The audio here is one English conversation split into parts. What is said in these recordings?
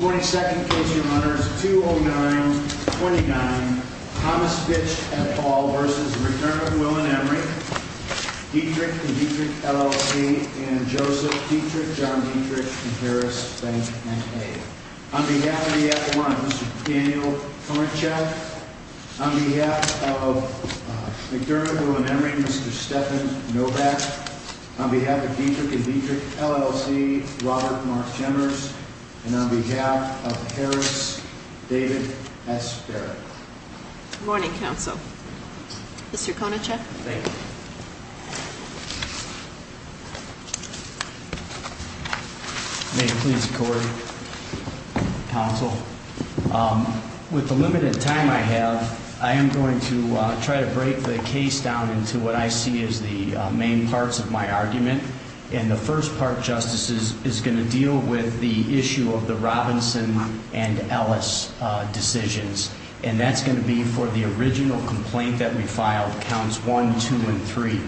22nd case your honors, 209-29 Thomas Fitch v. McDermott, Will and Emery, Dietrich and Dietrich, LLC, and Joseph Dietrich, John Dietrich, and Harris Bank, M.A. On behalf of the F1, Mr. Daniel Torczyk, on behalf of McDermott, Will and Emery, Mr. Stefan Novak, on behalf of Dietrich and Dietrich, LLC, Robert Mark Chemers, and on behalf of Harris, David S. Barrett. Good morning, counsel. Mr. Konachek. Thank you. May it please the court, counsel, with the limited time I have, I am going to try to break the case down into what I see as the main parts of my argument. And the first part, justices, is going to deal with the issue of the Robinson and Ellis decisions. And that's going to be for the original complaint that we filed, counts 1, 2, and 3.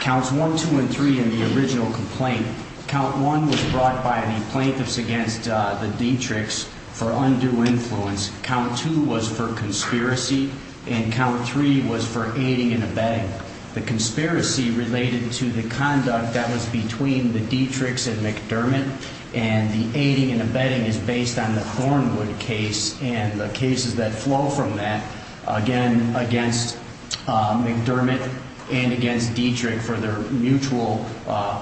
Counts 1, 2, and 3 in the original complaint, count 1 was brought by the plaintiffs against the Dietrichs for undue influence. Count 2 was for conspiracy. And count 3 was for aiding and abetting. The conspiracy related to the conduct that was between the Dietrichs and McDermott. And the aiding and abetting is based on the Thornwood case and the cases that flow from that, again, against McDermott and against Dietrich for their mutual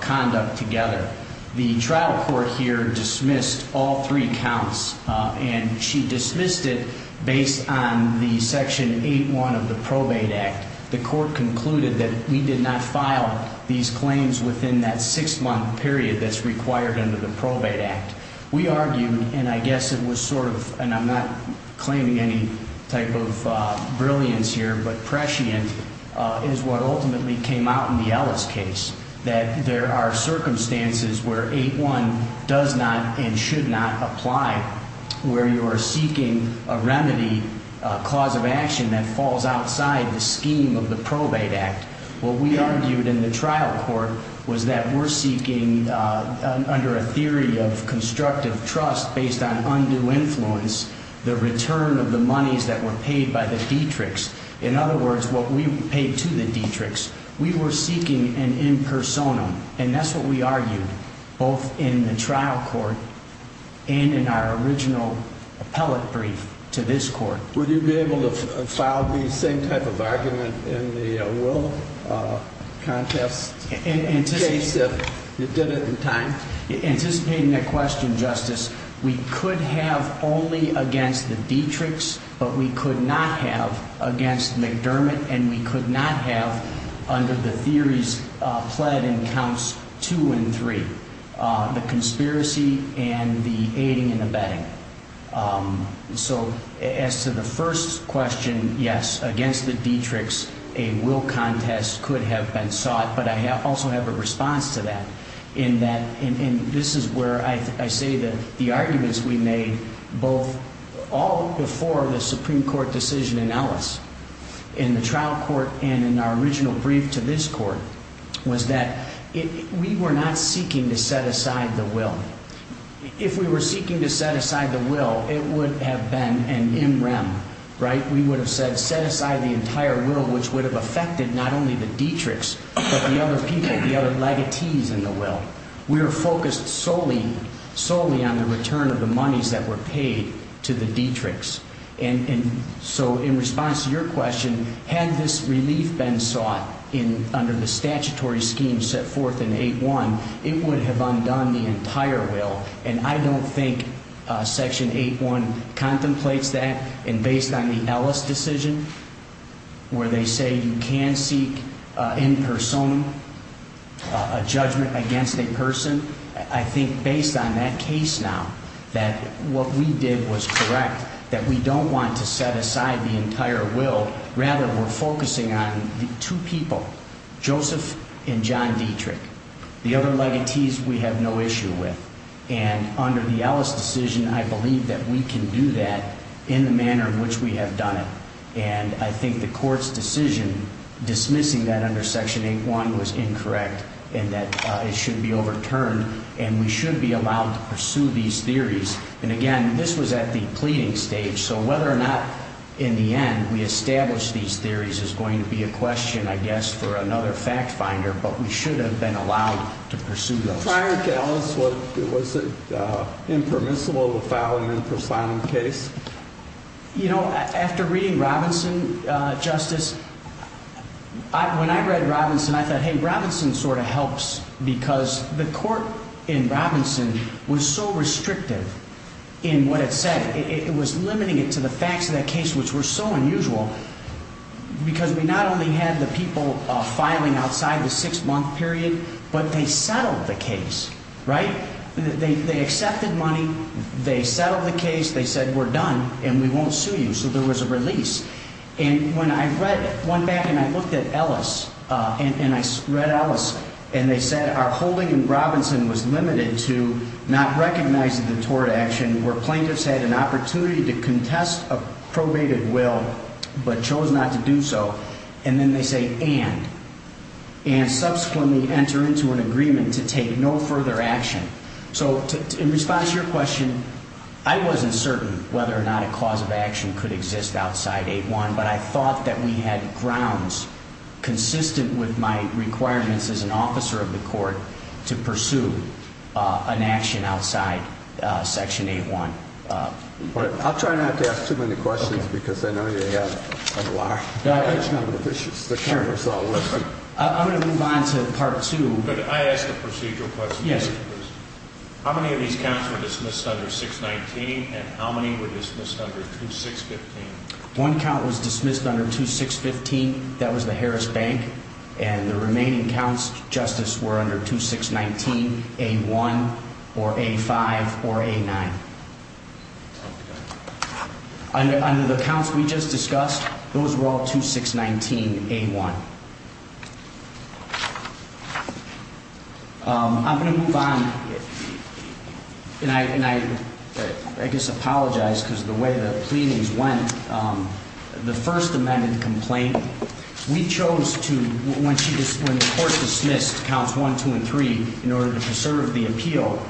conduct together. The trial court here dismissed all three counts. And she dismissed it based on the Section 8.1 of the Probate Act. The court concluded that we did not file these claims within that six-month period that's required under the Probate Act. We argued, and I guess it was sort of, and I'm not claiming any type of brilliance here, but prescient, is what ultimately came out in the Ellis case. That there are circumstances where 8.1 does not and should not apply, where you are seeking a remedy, a cause of action that falls outside the scheme of the Probate Act. What we argued in the trial court was that we're seeking, under a theory of constructive trust based on undue influence, the return of the monies that were paid by the Dietrichs. In other words, what we paid to the Dietrichs, we were seeking an impersonum. And that's what we argued, both in the trial court and in our original appellate brief to this court. Would you be able to file the same type of argument in the Will contest case if you did it in time? Anticipating that question, Justice, we could have only against the Dietrichs, but we could not have against McDermott. And we could not have, under the theories pled in counts two and three, the conspiracy and the aiding and abetting. So as to the first question, yes, against the Dietrichs, a Will contest could have been sought. But I also have a response to that, in that this is where I say that the arguments we made both all before the Supreme Court decision in Ellis, in the trial court and in our original brief to this court, was that we were not seeking to set aside the Will. If we were seeking to set aside the Will, it would have been an in rem, right? We would have said set aside the entire Will, which would have affected not only the Dietrichs, but the other people, the other legatees in the Will. We were focused solely, solely on the return of the monies that were paid to the Dietrichs. And so in response to your question, had this relief been sought under the statutory scheme set forth in 8-1, it would have undone the entire Will. And I don't think Section 8-1 contemplates that. And based on the Ellis decision, where they say you can seek in persona a judgment against a person, I think based on that case now, that what we did was correct, that we don't want to set aside the entire Will. Rather, we're focusing on the two people, Joseph and John Dietrich, the other legatees we have no issue with. And under the Ellis decision, I believe that we can do that in the manner in which we have done it. And I think the court's decision dismissing that under Section 8-1 was incorrect and that it should be overturned. And we should be allowed to pursue these theories. And again, this was at the pleading stage. So whether or not in the end we establish these theories is going to be a question, I guess, for another fact finder. But we should have been allowed to pursue those. Prior to Ellis, was it impermissible to file an in persona case? You know, after reading Robinson, Justice, when I read Robinson, I thought, hey, Robinson sort of helps because the court in Robinson was so restrictive in what it said. It was limiting it to the facts of that case, which were so unusual, because we not only had the people filing outside the six-month period, but they settled the case, right? They accepted money. They settled the case. They said, we're done, and we won't sue you. So there was a release. And when I went back and I looked at Ellis, and I read Ellis, and they said our holding in Robinson was limited to not recognizing the tort action where plaintiffs had an opportunity to contest a probated will but chose not to do so. And then they say and. And subsequently enter into an agreement to take no further action. So in response to your question, I wasn't certain whether or not a cause of action could exist outside 8-1, but I thought that we had grounds consistent with my requirements as an officer of the court to pursue an action outside Section 8-1. I'll try not to ask too many questions because I know you have a lot of issues. The camera's all working. I'm going to move on to Part 2. Could I ask a procedural question? Yes. How many of these counts were dismissed under 6-19, and how many were dismissed under 2-6-15? One count was dismissed under 2-6-15. That was the Harris Bank. And the remaining counts, Justice, were under 2-6-19-A-1 or A-5 or A-9. Under the counts we just discussed, those were all 2-6-19-A-1. I'm going to move on, and I guess apologize because of the way the pleadings went. The first amended complaint, we chose to, when the court dismissed counts 1, 2, and 3 in order to preserve the appeal,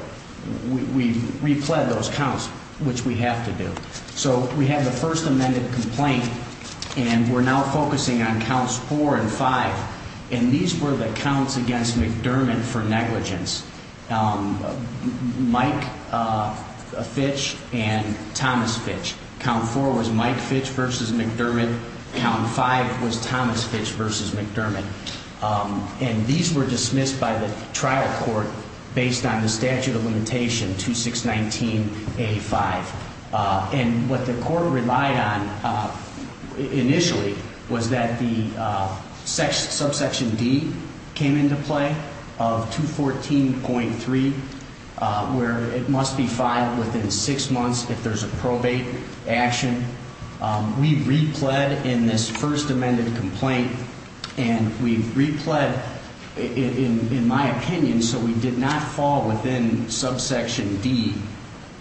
we repled those counts, which we have to do. So we have the first amended complaint, and we're now focusing on counts 4 and 5. And these were the counts against McDermott for negligence, Mike Fitch and Thomas Fitch. Count 4 was Mike Fitch versus McDermott. Count 5 was Thomas Fitch versus McDermott. And these were dismissed by the trial court based on the statute of limitation, 2-6-19-A-5. And what the court relied on initially was that the subsection D came into play of 214.3, where it must be filed within six months if there's a probate action. We repled in this first amended complaint, and we repled, in my opinion, so we did not fall within subsection D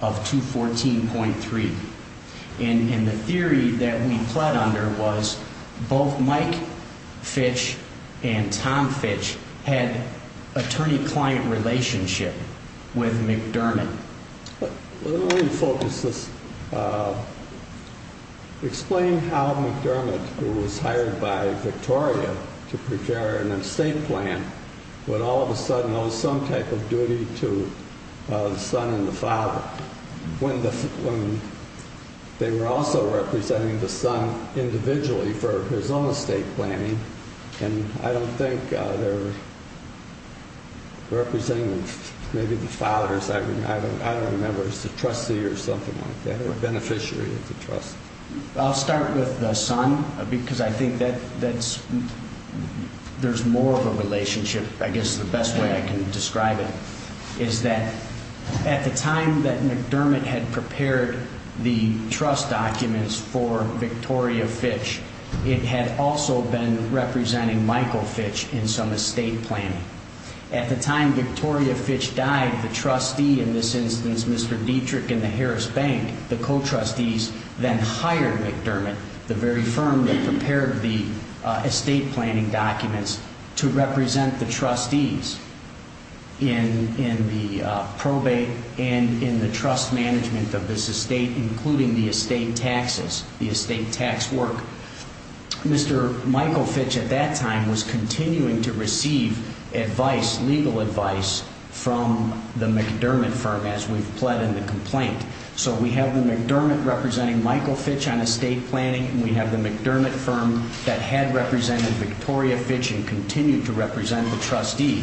of 214.3. And the theory that we pled under was both Mike Fitch and Tom Fitch had attorney-client relationship with McDermott. Let me focus this. Explain how McDermott, who was hired by Victoria to prepare an estate plan, would all of a sudden owe some type of duty to the son and the father when they were also representing the son individually for his own estate planning. And I don't think they're representing maybe the fathers. I don't remember. It's the trustee or something like that, or beneficiary of the trust. I'll start with the son because I think there's more of a relationship, I guess, the best way I can describe it, is that at the time that McDermott had prepared the trust documents for Victoria Fitch, it had also been representing Michael Fitch in some estate planning. At the time Victoria Fitch died, the trustee in this instance, Mr. Dietrich and the Harris Bank, the co-trustees, then hired McDermott, the very firm that prepared the estate planning documents, to represent the trustees in the probate and in the trust management of this estate, including the estate taxes, the estate tax work. Mr. Michael Fitch at that time was continuing to receive advice, legal advice, from the McDermott firm as we've pled in the complaint. So we have the McDermott representing Michael Fitch on estate planning, and we have the McDermott firm that had represented Victoria Fitch and continued to represent the trustee.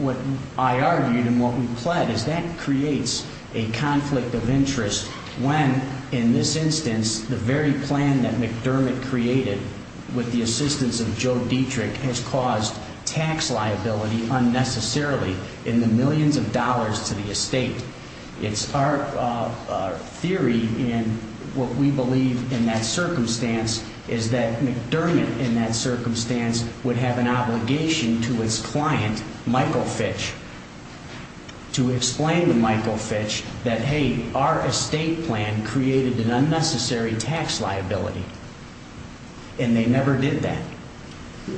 What I argued and what we pled is that creates a conflict of interest when, in this instance, the very plan that McDermott created with the assistance of Joe Dietrich has caused tax liability unnecessarily in the millions of dollars to the estate. It's our theory, and what we believe in that circumstance, is that McDermott, in that circumstance, would have an obligation to his client, Michael Fitch, to explain to Michael Fitch that, hey, our estate plan created an unnecessary tax liability, and they never did that.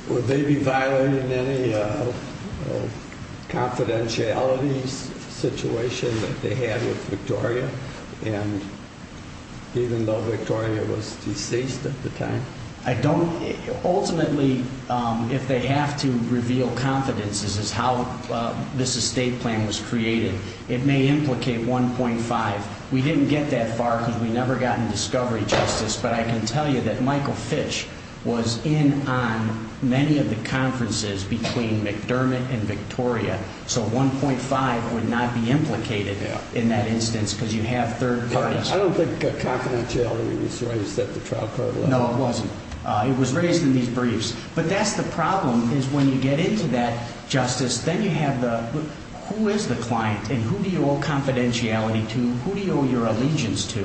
Would they be violating any confidentiality situation that they had with Victoria? Even though Victoria was deceased at the time? Ultimately, if they have to reveal confidence, this is how this estate plan was created. It may implicate 1.5. We didn't get that far because we never got in discovery, Justice, but I can tell you that Michael Fitch was in on many of the conferences between McDermott and Victoria, so 1.5 would not be implicated in that instance because you have third parties. I don't think confidentiality was raised at the trial court level. No, it wasn't. It was raised in these briefs. But that's the problem, is when you get into that, Justice, then you have the who is the client and who do you owe confidentiality to, who do you owe your allegiance to,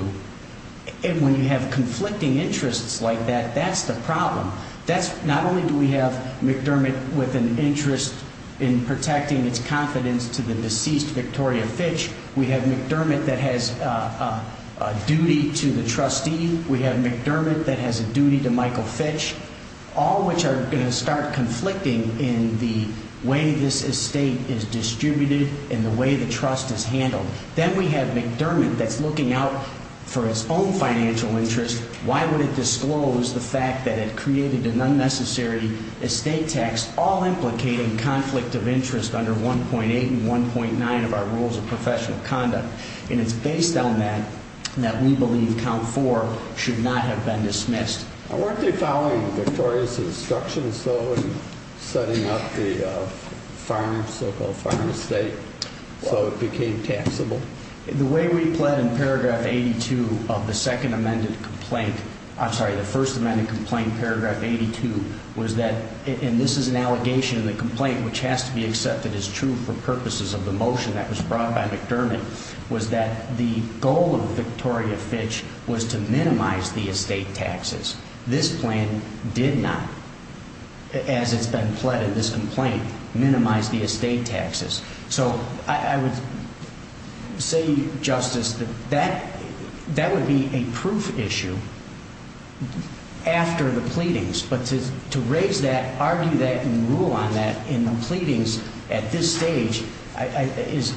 and when you have conflicting interests like that, that's the problem. Not only do we have McDermott with an interest in protecting its confidence to the deceased Victoria Fitch, we have McDermott that has a duty to the trustee, we have McDermott that has a duty to Michael Fitch, all of which are going to start conflicting in the way this estate is distributed and the way the trust is handled. Then we have McDermott that's looking out for its own financial interest. Why would it disclose the fact that it created an unnecessary estate tax, all implicating conflict of interest under 1.8 and 1.9 of our rules of professional conduct? And it's based on that that we believe Count 4 should not have been dismissed. Weren't they following Victoria's instructions, though, in setting up the so-called farm estate so it became taxable? The way we pled in paragraph 82 of the second amended complaint, I'm sorry, the first amended complaint, paragraph 82, was that, and this is an allegation in the complaint which has to be accepted as true for purposes of the motion that was brought by McDermott, was that the goal of Victoria Fitch was to minimize the estate taxes. This plan did not, as it's been pled in this complaint, minimize the estate taxes. So I would say, Justice, that that would be a proof issue after the pleadings. But to raise that, argue that, and rule on that in the pleadings at this stage is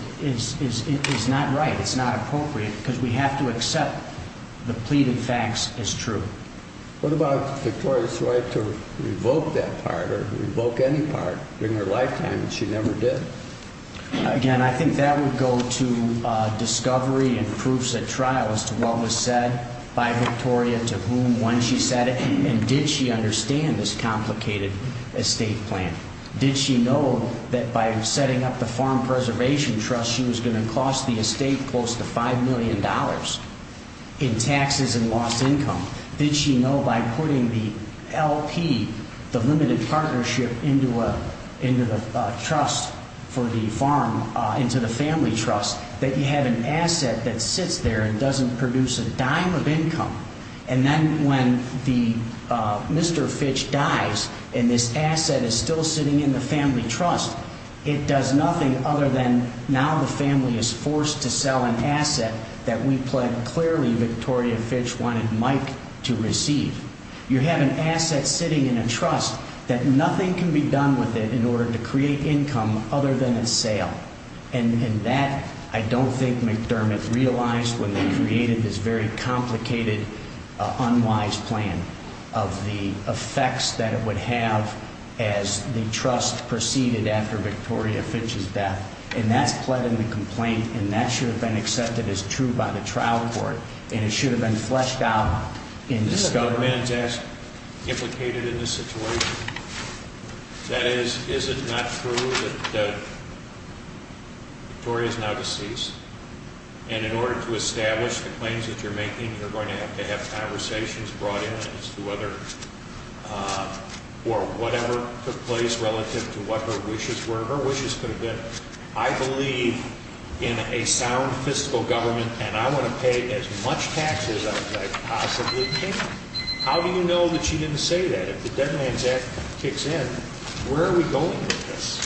not right. It's not appropriate because we have to accept the pleaded facts as true. What about Victoria's right to revoke that part or revoke any part in her lifetime that she never did? Again, I think that would go to discovery and proofs at trial as to what was said by Victoria, to whom, when she said it, and did she understand this complicated estate plan? Did she know that by setting up the Farm Preservation Trust she was going to cost the estate close to $5 million in taxes and lost income? Did she know by putting the LP, the limited partnership, into the trust for the farm, into the family trust, that you have an asset that sits there and doesn't produce a dime of income, and then when Mr. Fitch dies and this asset is still sitting in the family trust, it does nothing other than now the family is forced to sell an asset that we pled clearly Victoria Fitch wanted Mike to receive. You have an asset sitting in a trust that nothing can be done with it in order to create income other than its sale. And that I don't think McDermott realized when they created this very complicated, unwise plan of the effects that it would have as the trust proceeded after Victoria Fitch's death. And that's pled in the complaint, and that should have been accepted as true by the trial court, and it should have been fleshed out in this government. Is it not true that Victoria is now deceased? And in order to establish the claims that you're making, you're going to have to have conversations brought in as to whether or whatever took place relative to whatever her wishes could have been. I believe in a sound fiscal government, and I want to pay as much taxes as I possibly can. How do you know that she didn't say that? If the Dead Man's Act kicks in, where are we going with this?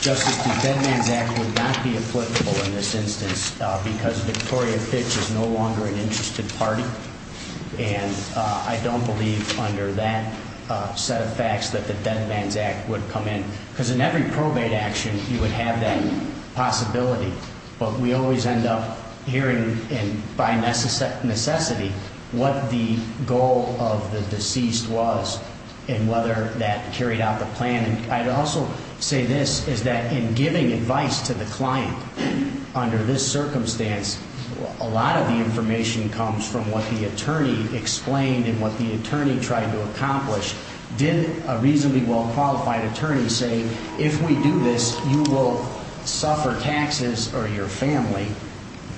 Justice, the Dead Man's Act would not be applicable in this instance because Victoria Fitch is no longer an interested party, and I don't believe under that set of facts that the Dead Man's Act would come in because in every probate action you would have that possibility. But we always end up hearing by necessity what the goal of the deceased was and whether that carried out the plan. I'd also say this, is that in giving advice to the client under this circumstance, a lot of the information comes from what the attorney explained and what the attorney tried to accomplish. Did a reasonably well-qualified attorney say, if we do this, you will suffer taxes or your family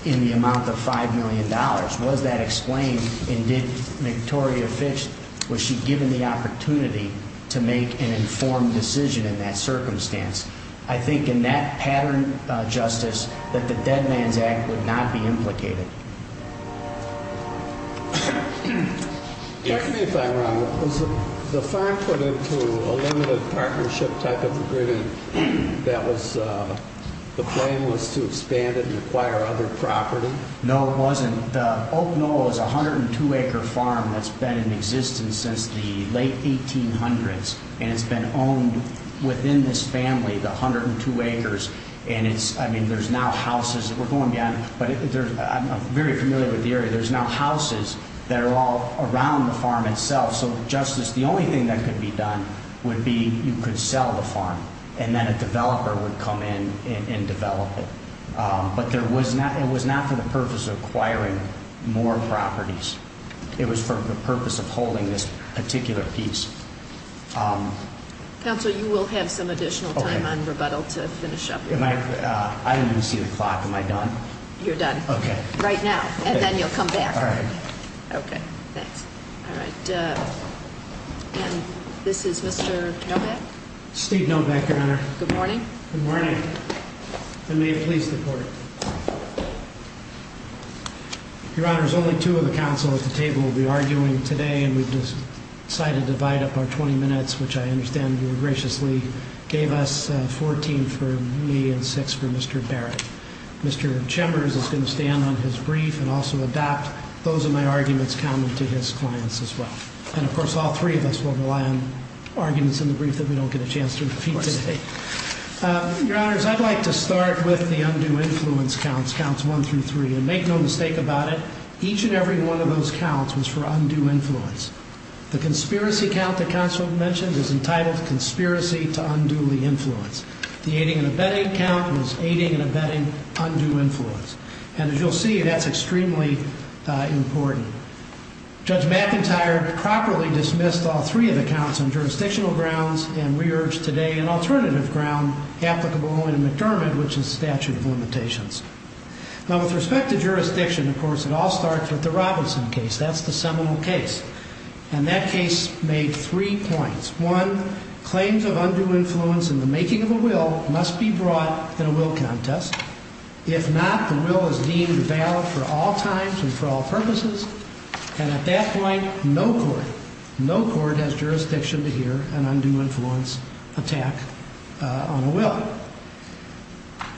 in the amount of $5 million? Was that explained? And did Victoria Fitch, was she given the opportunity to make an informed decision in that circumstance? I think in that pattern, Justice, that the Dead Man's Act would not be implicated. Tell me if I'm wrong, was the farm put into a limited partnership type of agreement that the plan was to expand it and acquire other property? No, it wasn't. Oak Knoll is a 102-acre farm that's been in existence since the late 1800s, and it's been owned within this family, the 102 acres, and there's now houses. We're going beyond, but I'm very familiar with the area. There's now houses that are all around the farm itself. So, Justice, the only thing that could be done would be you could sell the farm and then a developer would come in and develop it. But it was not for the purpose of acquiring more properties. It was for the purpose of holding this particular piece. Counsel, you will have some additional time on rebuttal to finish up. I didn't even see the clock. Am I done? You're done. Okay. Right now, and then you'll come back. All right. Okay. Thanks. All right. And this is Mr. Novak? Steve Novak, Your Honor. Good morning. Good morning. And may it please the Court. Your Honors, only two of the counsel at the table will be arguing today, and we've decided to divide up our 20 minutes, which I understand you graciously gave us 14 for me and six for Mr. Barrett. Mr. Chemers is going to stand on his brief and also adopt those of my arguments coming to his clients as well. And, of course, all three of us will rely on arguments in the brief that we don't get a chance to repeat today. Your Honors, I'd like to start with the undue influence counts, counts one through three, and make no mistake about it, each and every one of those counts was for undue influence. The conspiracy count the counsel mentioned is entitled Conspiracy to Unduly Influence. The aiding and abetting count was Aiding and Abetting Undue Influence. And as you'll see, that's extremely important. Judge McIntyre properly dismissed all three of the counts on jurisdictional grounds, and we urge today an alternative ground applicable only to McDermott, which is the statute of limitations. Now, with respect to jurisdiction, of course, it all starts with the Robinson case. That's the seminal case. And that case made three points. One, claims of undue influence in the making of a will must be brought in a will contest. If not, the will is deemed valid for all times and for all purposes. And at that point, no court, no court has jurisdiction to hear an undue influence attack on a will.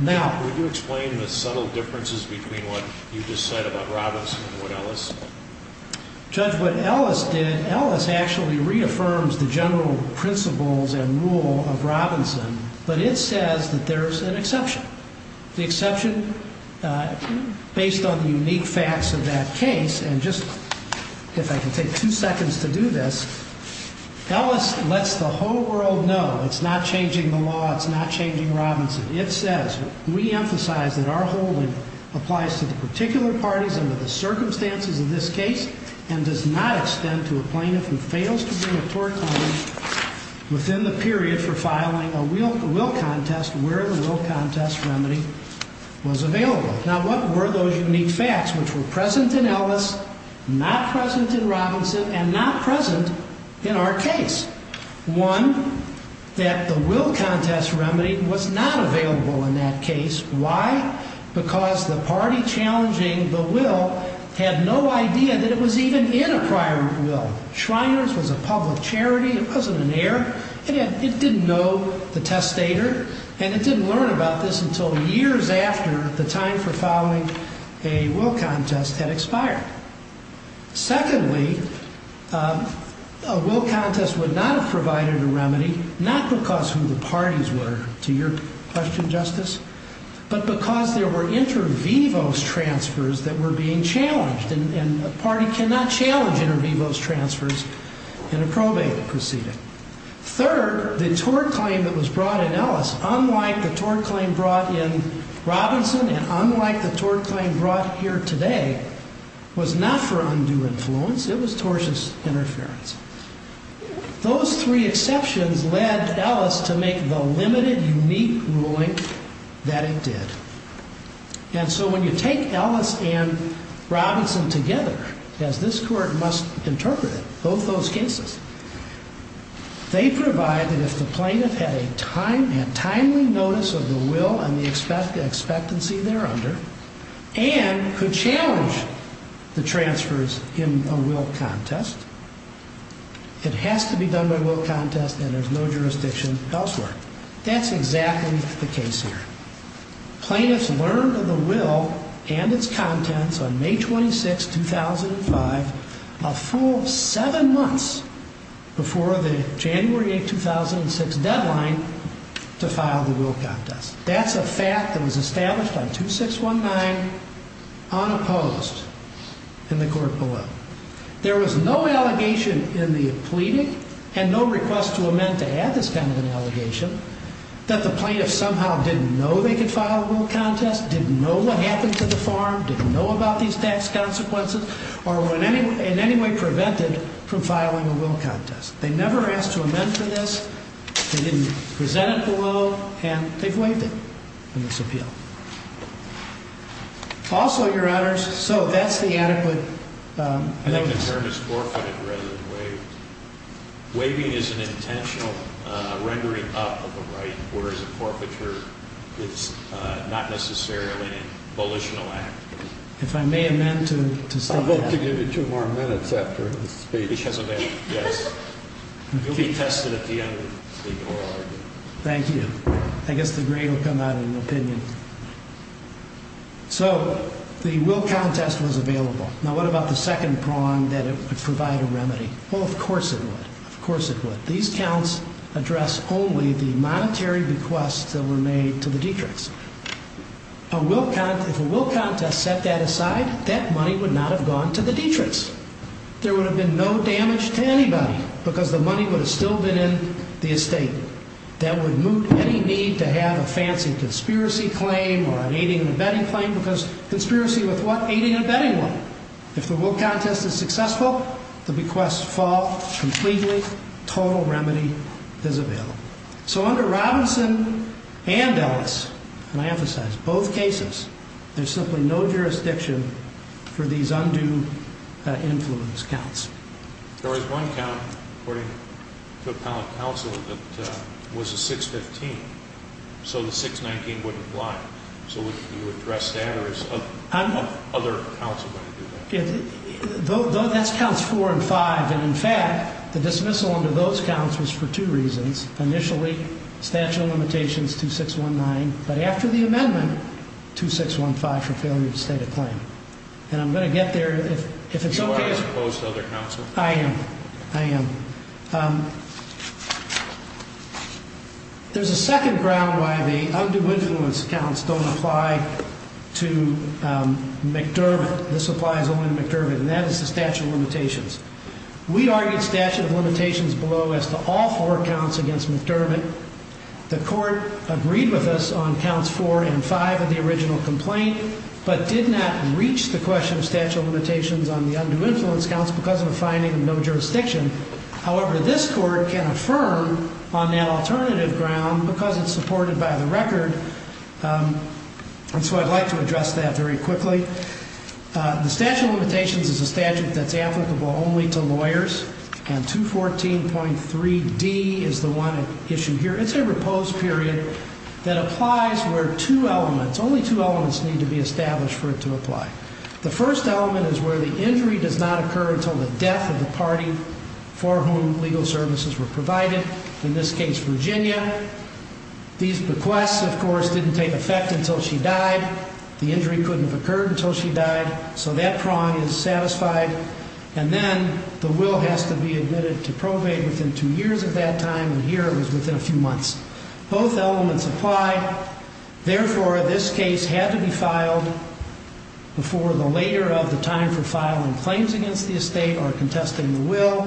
Now. Would you explain the subtle differences between what you just said about Robinson and what Ellis? Judge, what Ellis did, Ellis actually reaffirms the general principles and rule of Robinson, but it says that there's an exception. The exception, based on the unique facts of that case, and just if I can take two seconds to do this, Ellis lets the whole world know it's not changing the law, it's not changing Robinson. It says, we emphasize that our holding applies to the particular parties under the circumstances of this case and does not extend to a plaintiff who fails to bring a court claim within the period for filing a will contest where the will contest remedy was available. Now, what were those unique facts which were present in Ellis, not present in Robinson, and not present in our case? One, that the will contest remedy was not available in that case. Why? Because the party challenging the will had no idea that it was even in a prior will. Shriners was a public charity. It wasn't an heir. It didn't know the testator, and it didn't learn about this until years after the time for filing a will contest had expired. Secondly, a will contest would not have provided a remedy, not because who the parties were, to your question, Justice, but because there were inter vivos transfers that were being challenged, and a party cannot challenge inter vivos transfers in a probate proceeding. Third, the tort claim that was brought in Ellis, unlike the tort claim brought in Robinson, and unlike the tort claim brought here today, was not for undue influence. It was tortious interference. Those three exceptions led Ellis to make the limited, unique ruling that it did. And so when you take Ellis and Robinson together, as this court must interpret it, both those cases, they provide that if the plaintiff had a timely notice of the will and the expectancy they're under, and could challenge the transfers in a will contest, it has to be done by will contest, and there's no jurisdiction elsewhere. That's exactly the case here. Plaintiffs learned of the will and its contents on May 26, 2005, a full seven months before the January 8, 2006 deadline to file the will contest. That's a fact that was established on 2619 unopposed in the court below. There was no allegation in the pleading and no request to amend to add this kind of an allegation that the plaintiff somehow didn't know they could file a will contest, didn't know what happened to the farm, didn't know about these tax consequences, or were in any way prevented from filing a will contest. They never asked to amend for this. They didn't present it below, and they've waived it in this appeal. Also, Your Honors, so that's the adequate notice. I think the term is forfeited rather than waived. Waiving is an intentional rendering up of a right, whereas a forfeiture is not necessarily a volitional act. If I may amend to state that. I'll vote to give you two more minutes after this speech. Yes. You'll be tested at the end of the oral argument. Thank you. I guess the grade will come out in an opinion. So the will contest was available. Now, what about the second prong that it would provide a remedy? Well, of course it would. Of course it would. These counts address only the monetary bequests that were made to the Dietrichs. If a will contest set that aside, that money would not have gone to the Dietrichs. There would have been no damage to anybody because the money would have still been in the estate. That would moot any need to have a fancy conspiracy claim or an aiding and abetting claim because conspiracy with what? Aiding and abetting what? If the will contest is successful, the bequests fall completely. Total remedy is available. So under Robinson and Ellis, and I emphasize both cases, there's simply no jurisdiction for these undue influence counts. There was one count, according to appellate counsel, that was a 615. So the 619 wouldn't apply. So would you address that or is other counsel going to do that? That's counts four and five. And, in fact, the dismissal under those counts was for two reasons. Initially, statute of limitations 2619. But after the amendment, 2615 for failure to state a claim. And I'm going to get there. You are opposed to other counsel? I am. I am. There's a second ground why the undue influence counts don't apply to McDermott. This applies only to McDermott, and that is the statute of limitations. We argued statute of limitations below as to all four counts against McDermott. The court agreed with us on counts four and five of the original complaint, but did not reach the question of statute of limitations on the undue influence counts because of a finding of no jurisdiction. However, this court can affirm on that alternative ground because it's supported by the record. And so I'd like to address that very quickly. The statute of limitations is a statute that's applicable only to lawyers, and 214.3D is the one issued here. It's a repose period that applies where two elements, only two elements need to be established for it to apply. The first element is where the injury does not occur until the death of the party for whom legal services were provided, in this case, Virginia. These bequests, of course, didn't take effect until she died. The injury couldn't have occurred until she died, so that prong is satisfied. And then the will has to be admitted to probate within two years of that time, and here it was within a few months. Both elements apply. Therefore, this case had to be filed before the later of the time for filing claims against the estate or contesting the will.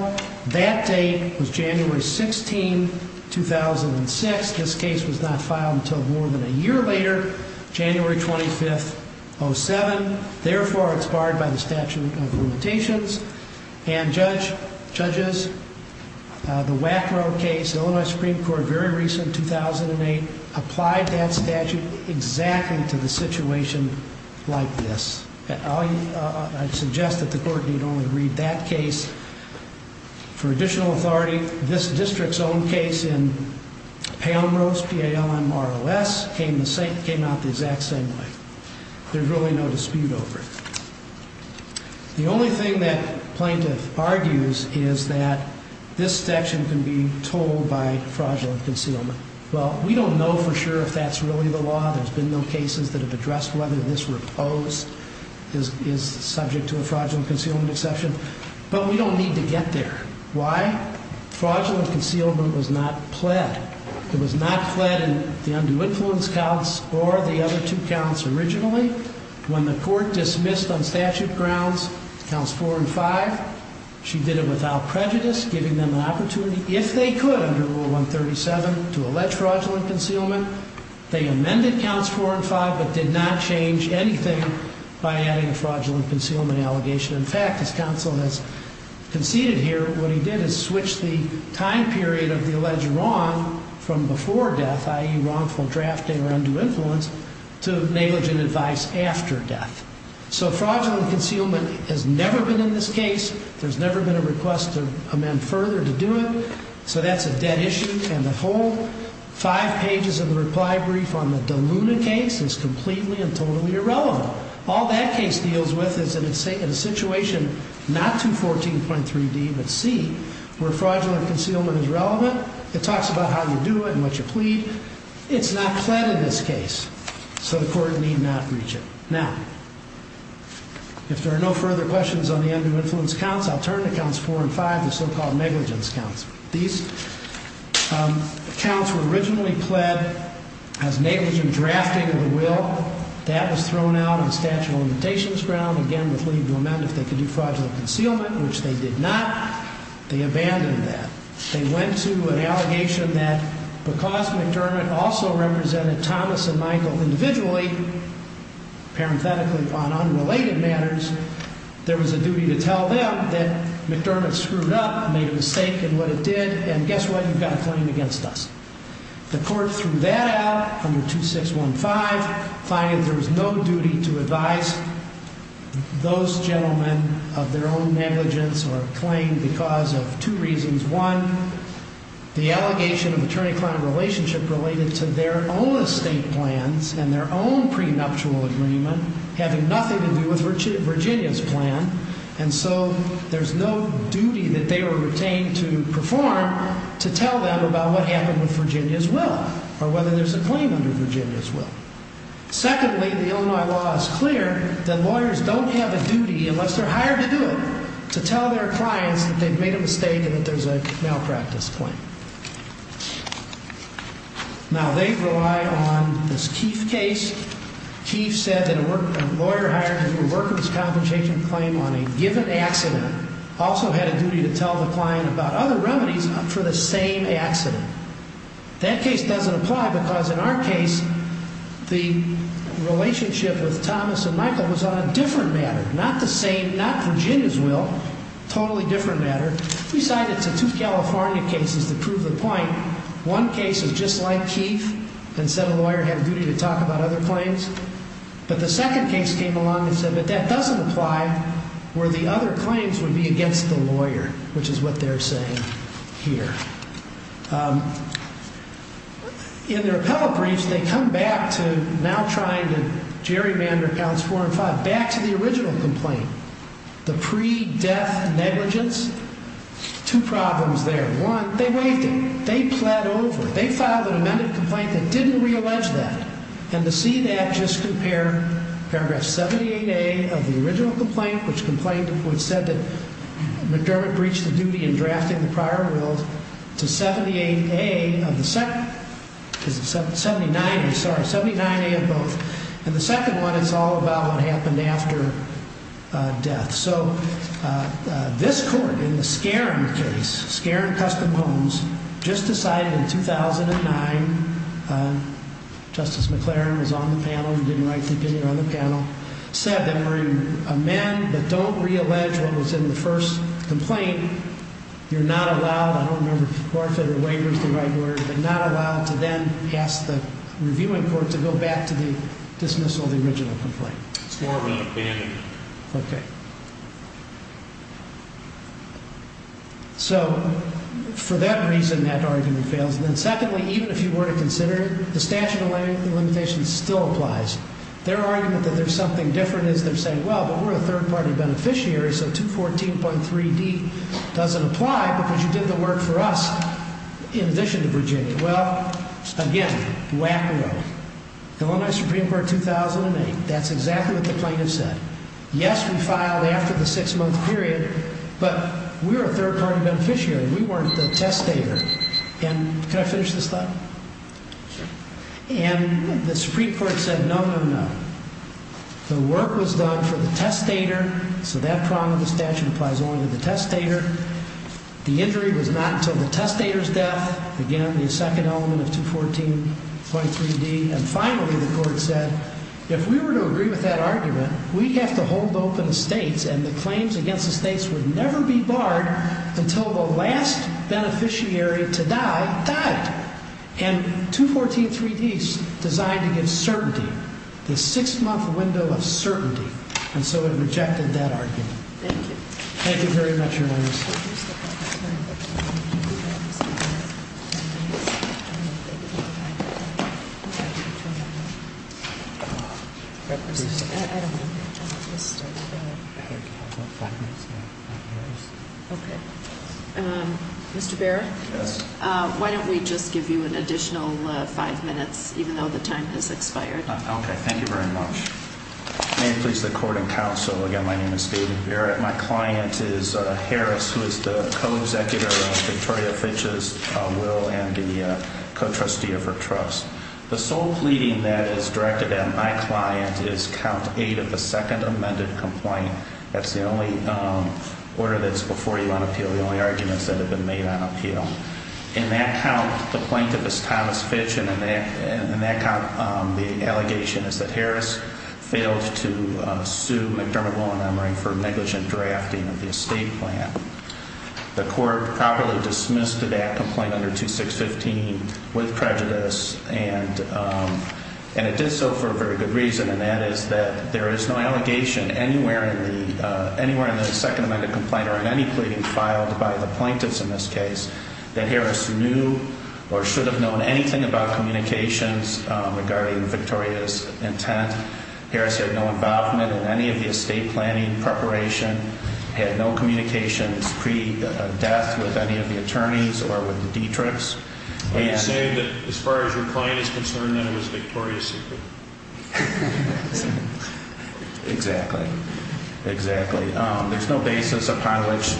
That date was January 16, 2006. This case was not filed until more than a year later. January 25, 2007. Therefore, it's barred by the statute of limitations. And, judges, the Wackrow case, Illinois Supreme Court, very recent, 2008, applied that statute exactly to the situation like this. I suggest that the Court need only read that case. For additional authority, this district's own case in Palomaro's, P-A-L-O-M-A-R-O-S, came out the exact same way. There's really no dispute over it. The only thing that plaintiff argues is that this section can be told by fraudulent concealment. Well, we don't know for sure if that's really the law. There's been no cases that have addressed whether this were opposed, is subject to a fraudulent concealment exception. But we don't need to get there. Why? Fraudulent concealment was not pled. It was not pled in the undue influence counts or the other two counts originally. When the Court dismissed on statute grounds counts 4 and 5, she did it without prejudice, giving them an opportunity, if they could under Rule 137, to allege fraudulent concealment. They amended counts 4 and 5 but did not change anything by adding a fraudulent concealment allegation. In fact, as counsel has conceded here, what he did is switch the time period of the alleged wrong from before death, i.e., wrongful drafting or undue influence, to negligent advice after death. So fraudulent concealment has never been in this case. There's never been a request to amend further to do it. So that's a dead issue. And the whole five pages of the reply brief on the Deluna case is completely and totally irrelevant. All that case deals with is in a situation not to 14.3d but c, where fraudulent concealment is relevant. It talks about how you do it and what you plead. It's not pled in this case. So the Court need not reach it. Now, if there are no further questions on the undue influence counts, I'll turn to counts 4 and 5, the so-called negligence counts. These counts were originally pled as negligent drafting of the will. That was thrown out on statute of limitations ground, again, with leave to amend if they could do fraudulent concealment, which they did not. They abandoned that. They went to an allegation that because McDermott also represented Thomas and Michael individually, parenthetically, on unrelated matters, there was a duty to tell them that McDermott screwed up, made a mistake in what it did, and guess what? You've got a claim against us. The Court threw that out under 2615, finding that there was no duty to advise those gentlemen of their own negligence or claim because of two reasons. One, the allegation of attorney-client relationship related to their own estate plans and their own prenuptial agreement having nothing to do with Virginia's plan. And so there's no duty that they were retained to perform to tell them about what happened with Virginia's will or whether there's a claim under Virginia's will. Secondly, the Illinois law is clear that lawyers don't have a duty, unless they're hired to do it, to tell their clients that they've made a mistake and that there's a malpractice claim. Now, they rely on this Keefe case. Keefe said that a lawyer hired to do a workers' compensation claim on a given accident also had a duty to tell the client about other remedies for the same accident. That case doesn't apply because in our case, the relationship with Thomas and Michael was on a different matter, not the same, not Virginia's will, totally different matter. We cited two California cases to prove the point. One case was just like Keefe and said a lawyer had a duty to talk about other claims. But the second case came along and said, but that doesn't apply where the other claims would be against the lawyer, which is what they're saying here. In their appellate briefs, they come back to now trying to gerrymander counts four and five, back to the original complaint, the pre-death negligence. Two problems there. One, they waived it. They pled over. They filed an amended complaint that didn't reallege that. And to see that, just compare paragraph 78A of the original complaint, which complained, which said that McDermott breached the duty in drafting the prior will to 78A of the second, is it 79? I'm sorry, 79A of both. And the second one is all about what happened after death. So this court, in the Skerin case, Skerin Custom Homes, just decided in 2009, Justice McLaren was on the panel, didn't write the opinion on the panel, said that for a man that don't reallege what was in the first complaint, you're not allowed, I don't remember if waiver is the right word, but not allowed to then ask the reviewing court to go back to dismissal of the original complaint. It's more of an abandonment. Okay. So for that reason, that argument fails. And then secondly, even if you were to consider it, the statute of limitations still applies. Their argument that there's something different is they're saying, well, but we're a third-party beneficiary, so 214.3D doesn't apply because you did the work for us in addition to Virginia. Well, again, whack-a-mole. Illinois Supreme Court, 2008, that's exactly what the plaintiff said. Yes, we filed after the six-month period, but we were a third-party beneficiary. We weren't the testator. And can I finish this thought? And the Supreme Court said, no, no, no. The work was done for the testator, so that prong of the statute applies only to the testator. The injury was not until the testator's death, again, the second element of 214.3D. And finally, the court said, if we were to agree with that argument, we have to hold open the states, and the claims against the states would never be barred until the last beneficiary to die died. And 214.3D is designed to give certainty, the six-month window of certainty. And so it rejected that argument. Thank you. Thank you very much, Your Honor. Mr. Baird? Yes. Why don't we just give you an additional five minutes, even though the time has expired? Okay, thank you very much. May it please the court and counsel, again, my name is David Baird. My client is Harris, who is the co-executor of Victoria Fitch's will and the co-trustee of her trust. The sole pleading that is directed at my client is count eight of the second amended complaint. That's the only order that's before you on appeal, the only arguments that have been made on appeal. In that count, the plaintiff is Thomas Fitch, and in that count, the allegation is that Harris failed to sue McDermott Law Enumery for negligent drafting of the estate plan. The court properly dismissed that complaint under 2615 with prejudice, and it did so for a very good reason, and that is that there is no allegation anywhere in the second amended complaint or in any pleading filed by the plaintiffs in this case that Harris knew or should have known anything about communications regarding Victoria's intent. Harris had no involvement in any of the estate planning preparation, had no communications pre-death with any of the attorneys or with the Dietrichs. Are you saying that as far as your client is concerned, that it was Victoria's secret? Exactly. Exactly. There's no basis upon which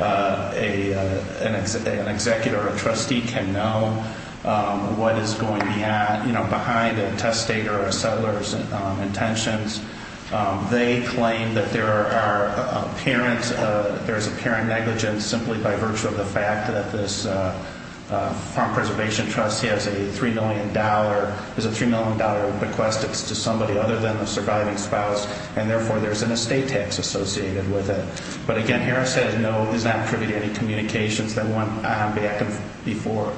an executor or a trustee can know what is going behind a testator or a settler's intentions. They claim that there's apparent negligence simply by virtue of the fact that this Farm Preservation Trust has a $3 million bequest. It's to somebody other than the surviving spouse, and therefore, there's an estate tax associated with it. But again, Harris said no, is not privy to any communications that went back before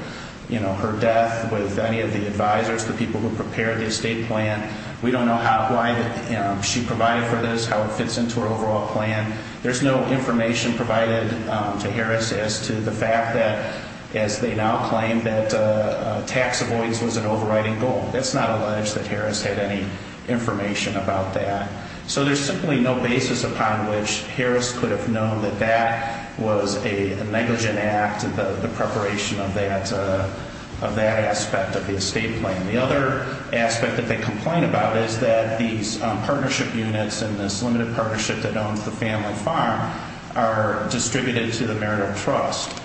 her death with any of the advisors, the people who prepared the estate plan. We don't know why she provided for this, how it fits into her overall plan. There's no information provided to Harris as to the fact that, as they now claim, that tax avoidance was an overriding goal. It's not alleged that Harris had any information about that. So there's simply no basis upon which Harris could have known that that was a negligent act, the preparation of that aspect of the estate plan. The other aspect that they complain about is that these partnership units and this limited partnership that owns the family farm are distributed to the marital trust.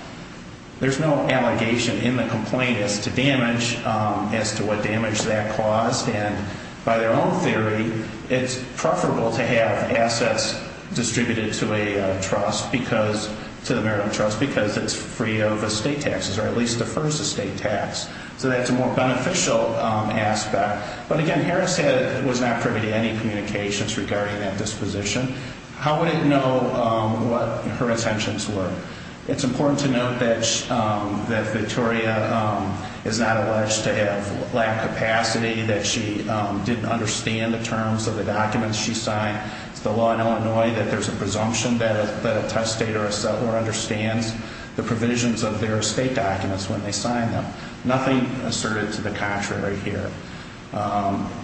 There's no allegation in the complaint as to damage, as to what damage that caused. And by their own theory, it's preferable to have assets distributed to a trust, to the marital trust, because it's free of estate taxes, or at least defers to estate tax. So that's a more beneficial aspect. But again, Harris was not privy to any communications regarding that disposition. How would it know what her intentions were? It's important to note that Victoria is not alleged to have lack of capacity, that she didn't understand the terms of the documents she signed. It's the law in Illinois that there's a presumption that a testator or settler understands the provisions of their estate documents when they sign them. Nothing asserted to the contrary here.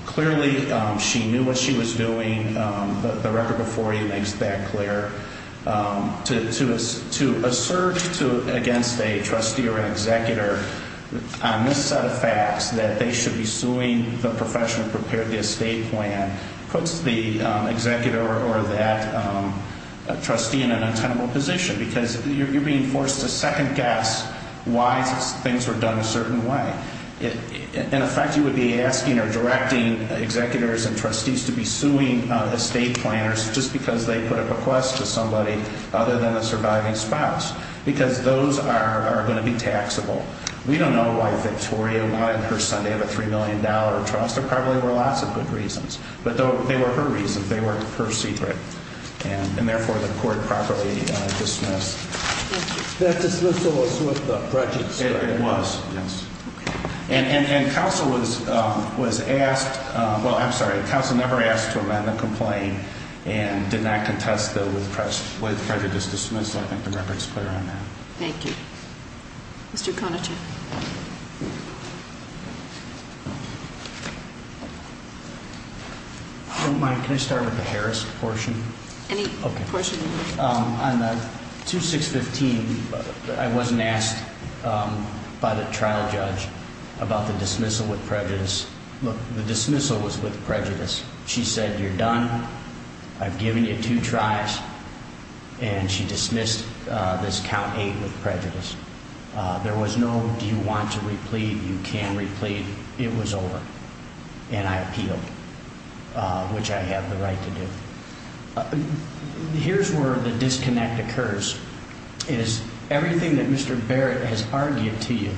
Clearly, she knew what she was doing. The record before you makes that clear. To assert against a trustee or an executor on this set of facts, that they should be suing the professional who prepared the estate plan, puts the executor or that trustee in an untenable position. Because you're being forced to second guess why things were done a certain way. In effect, you would be asking or directing executors and trustees to be suing estate planners just because they put a request to somebody other than a surviving spouse. Because those are going to be taxable. We don't know why Victoria wanted her son to have a $3 million trust. There probably were lots of good reasons. But they were her reasons. They were her secret. And therefore, the court properly dismissed. That dismissal was with the prejudice. It was. Yes. And counsel was asked. Well, I'm sorry. Counsel never asked to amend the complaint and did not contest it with prejudice dismissed. I think the record's clear on that. Thank you. Mr. Konechuk. If you don't mind, can I start with the Harris portion? Any portion you need. On the 2615, I wasn't asked by the trial judge about the dismissal with prejudice. Look, the dismissal was with prejudice. She said, you're done. I've given you two tries. And she dismissed this count eight with prejudice. There was no, do you want to replead? You can replead. It was over. And I appealed, which I have the right to do. Here's where the disconnect occurs, is everything that Mr. Barrett has argued to you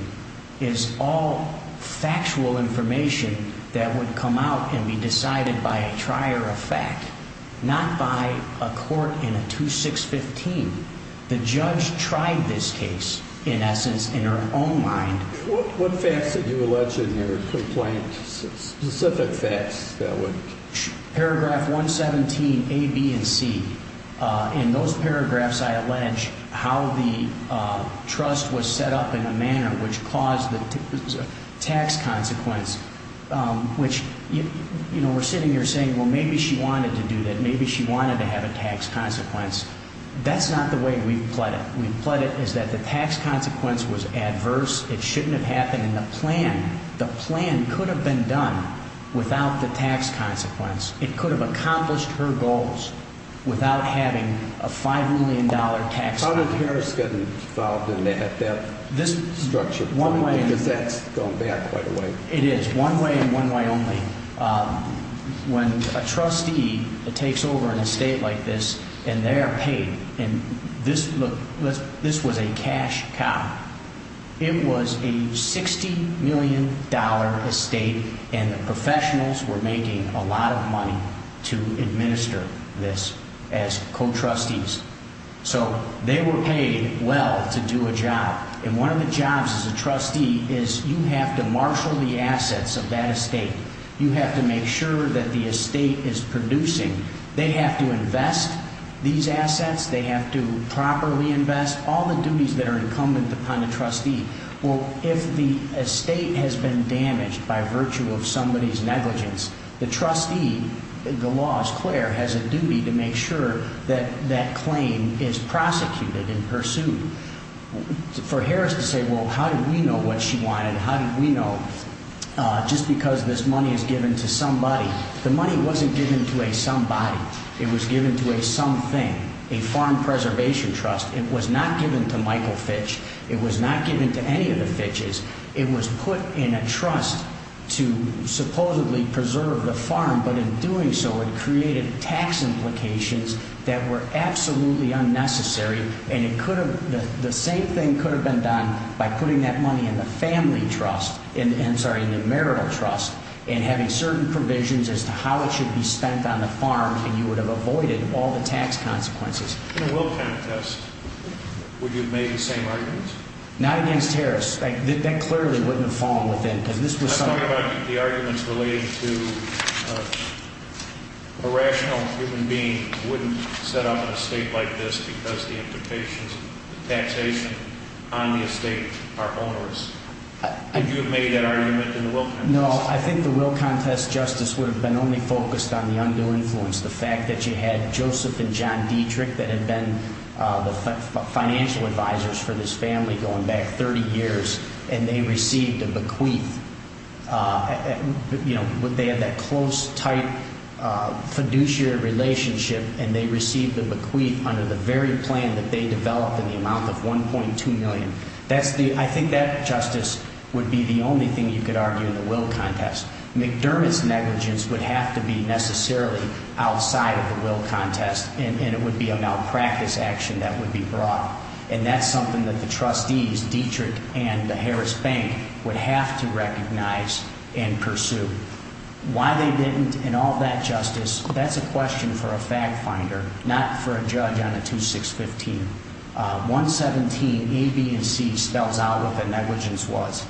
is all factual information that would come out and be decided by a trier of fact, not by a court in a 2615. The judge tried this case, in essence, in her own mind. What facts did you allege in your complaint, specific facts that would? Paragraph 117, A, B, and C. In those paragraphs, I allege how the trust was set up in a manner which caused the tax consequence, which, you know, we're sitting here saying, well, maybe she wanted to do that. Maybe she wanted to have a tax consequence. That's not the way we've pled it. We've pled it as that the tax consequence was adverse. It shouldn't have happened. The plan could have been done without the tax consequence. It could have accomplished her goals without having a $5 million tax. How did Harris get involved in that structure? Because that's going back quite a way. It is, one way and one way only. When a trustee takes over an estate like this, and they're paid, and this was a cash cop. It was a $60 million estate, and the professionals were making a lot of money to administer this as co-trustees. So they were paid well to do a job. And one of the jobs as a trustee is you have to marshal the assets of that estate. You have to make sure that the estate is producing. They have to invest these assets. They have to properly invest. That's all the duties that are incumbent upon the trustee. Well, if the estate has been damaged by virtue of somebody's negligence, the trustee, the law is clear, has a duty to make sure that that claim is prosecuted and pursued. For Harris to say, well, how did we know what she wanted? How did we know just because this money is given to somebody? The money wasn't given to a somebody. It was given to a something, a Farm Preservation Trust. It was not given to Michael Fitch. It was not given to any of the Fitches. It was put in a trust to supposedly preserve the farm, but in doing so, it created tax implications that were absolutely unnecessary, and the same thing could have been done by putting that money in the marital trust and having certain provisions as to how it should be spent on the farm, and you would have avoided all the tax consequences. In a will contest, would you have made the same arguments? Not against Harris. That clearly wouldn't have fallen within, because this was something— I'm talking about the arguments related to a rational human being wouldn't set up an estate like this because the implications of taxation on the estate are onerous. Would you have made that argument in a will contest? No, I think the will contest, Justice, would have been only focused on the undue influence, the fact that you had Joseph and John Dietrich that had been the financial advisors for this family going back 30 years, and they received a bequeath. They had that close, tight fiduciary relationship, and they received a bequeath under the very plan that they developed in the amount of $1.2 million. I think that, Justice, would be the only thing you could argue in the will contest. McDermott's negligence would have to be necessarily outside of the will contest, and it would be a malpractice action that would be brought. And that's something that the trustees, Dietrich and Harris Bank, would have to recognize and pursue. Why they didn't and all that, Justice, that's a question for a fact-finder, not for a judge on a 2-6-15. 1-17-A-B-C spells out what the negligence was.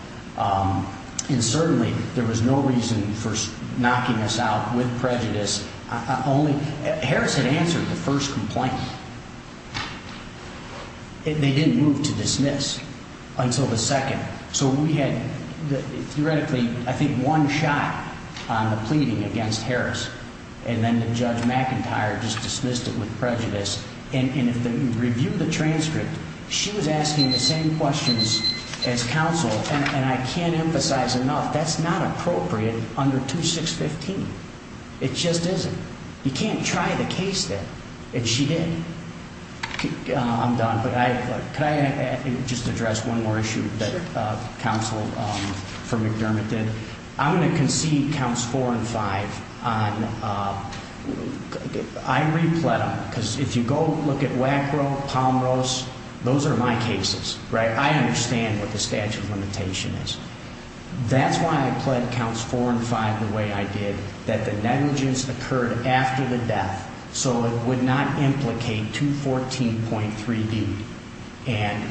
And certainly there was no reason for knocking us out with prejudice. Harris had answered the first complaint. They didn't move to dismiss until the second. So we had theoretically, I think, one shot on the pleading against Harris, and then Judge McIntyre just dismissed it with prejudice. And if you review the transcript, she was asking the same questions as counsel. And I can't emphasize enough, that's not appropriate under 2-6-15. It just isn't. You can't try the case there. And she did. I'm done, but could I just address one more issue that counsel for McDermott did? I'm going to concede counts 4 and 5. I re-pled them, because if you go look at Wackrow, Palmrose, those are my cases, right? I understand what the statute of limitation is. That's why I pled counts 4 and 5 the way I did, that the negligence occurred after the death, so it would not implicate 214.3B. And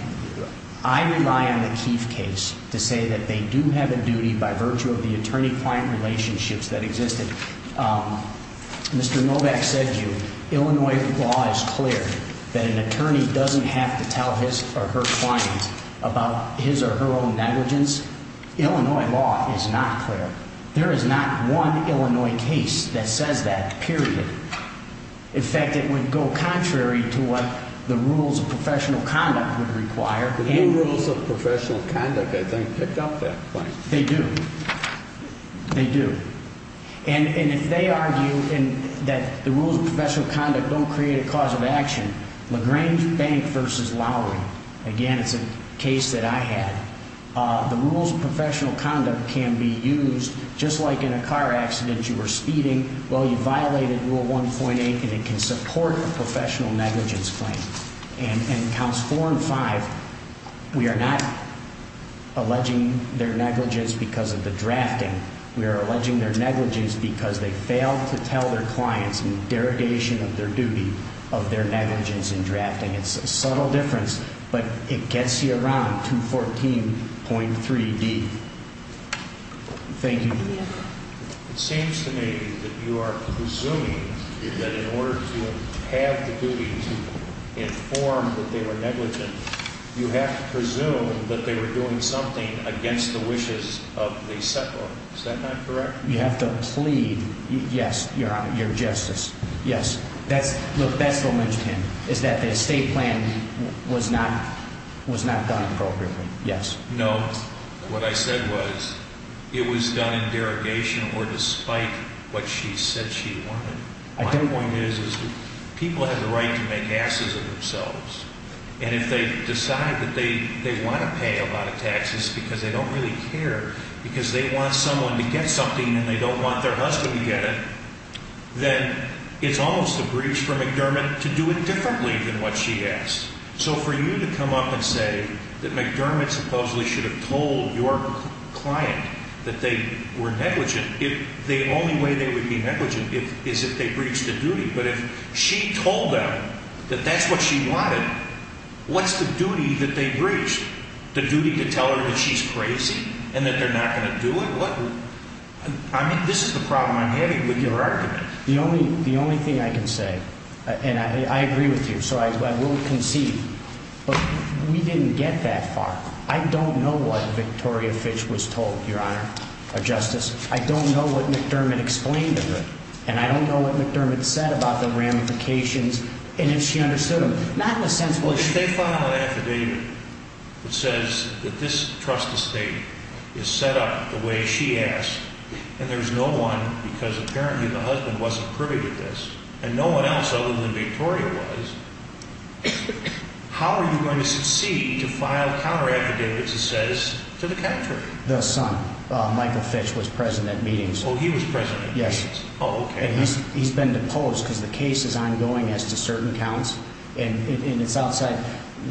I rely on the Keefe case to say that they do have a duty, by virtue of the attorney-client relationships that existed. Mr. Novak said to you, Illinois law is clear, that an attorney doesn't have to tell his or her client about his or her own negligence. Illinois law is not clear. There is not one Illinois case that says that, period. In fact, it would go contrary to what the rules of professional conduct would require. The new rules of professional conduct, I think, pick up that point. They do. They do. And if they argue that the rules of professional conduct don't create a cause of action, LaGrange Bank v. Lowry, again, it's a case that I had, the rules of professional conduct can be used just like in a car accident you were speeding, well, you violated Rule 1.8, and it can support a professional negligence claim. And in Counts 4 and 5, we are not alleging their negligence because of the drafting. We are alleging their negligence because they failed to tell their clients, in derogation of their duty, of their negligence in drafting. It's a subtle difference, but it gets you around 214.3B. Thank you. It seems to me that you are presuming that in order to have the duty to inform that they were negligent, you have to presume that they were doing something against the wishes of the settler. Is that not correct? You have to plead, yes, Your Honor, your justice. Yes. Look, Bessel mentioned him, is that the estate plan was not done appropriately. Yes. No, what I said was it was done in derogation or despite what she said she wanted. My point is that people have the right to make asses of themselves, and if they decide that they want to pay a lot of taxes because they don't really care, because they want someone to get something and they don't want their husband to get it, then it's almost a breach for McDermott to do it differently than what she asked. So for you to come up and say that McDermott supposedly should have told your client that they were negligent, the only way they would be negligent is if they breached the duty. But if she told them that that's what she wanted, what's the duty that they breached? The duty to tell her that she's crazy and that they're not going to do it? I mean, this is the problem I'm having with your argument. The only thing I can say, and I agree with you, so I won't concede, but we didn't get that far. I don't know what Victoria Fitch was told, Your Honor, or Justice. I don't know what McDermott explained to her, and I don't know what McDermott said about the ramifications, and if she understood them. Not in the sense what she said. Well, if they file an affidavit that says that this trust estate is set up the way she asked and there's no one because apparently the husband wasn't privy to this and no one else other than Victoria was, how are you going to succeed to file counter-affidavits that says to the country? The son, Michael Fitch, was present at meetings. Oh, he was present at meetings? Yes. Oh, okay. He's been deposed because the case is ongoing as to certain counts, and it's outside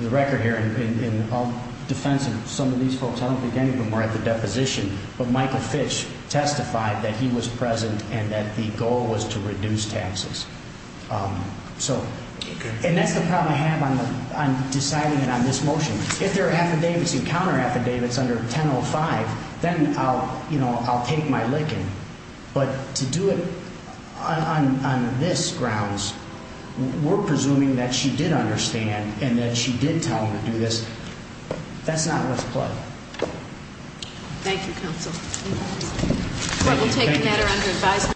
the record here in all defense of some of these folks. I don't think any of them were at the deposition, but Michael Fitch testified that he was present and that the goal was to reduce taxes. And that's the problem I have on deciding it on this motion. If there are affidavits and counter-affidavits under 1005, then I'll take my licking. But to do it on this grounds, we're presuming that she did understand and that she did tell him to do this. That's not what's played. Thank you, counsel. Court will take the matter under advisement.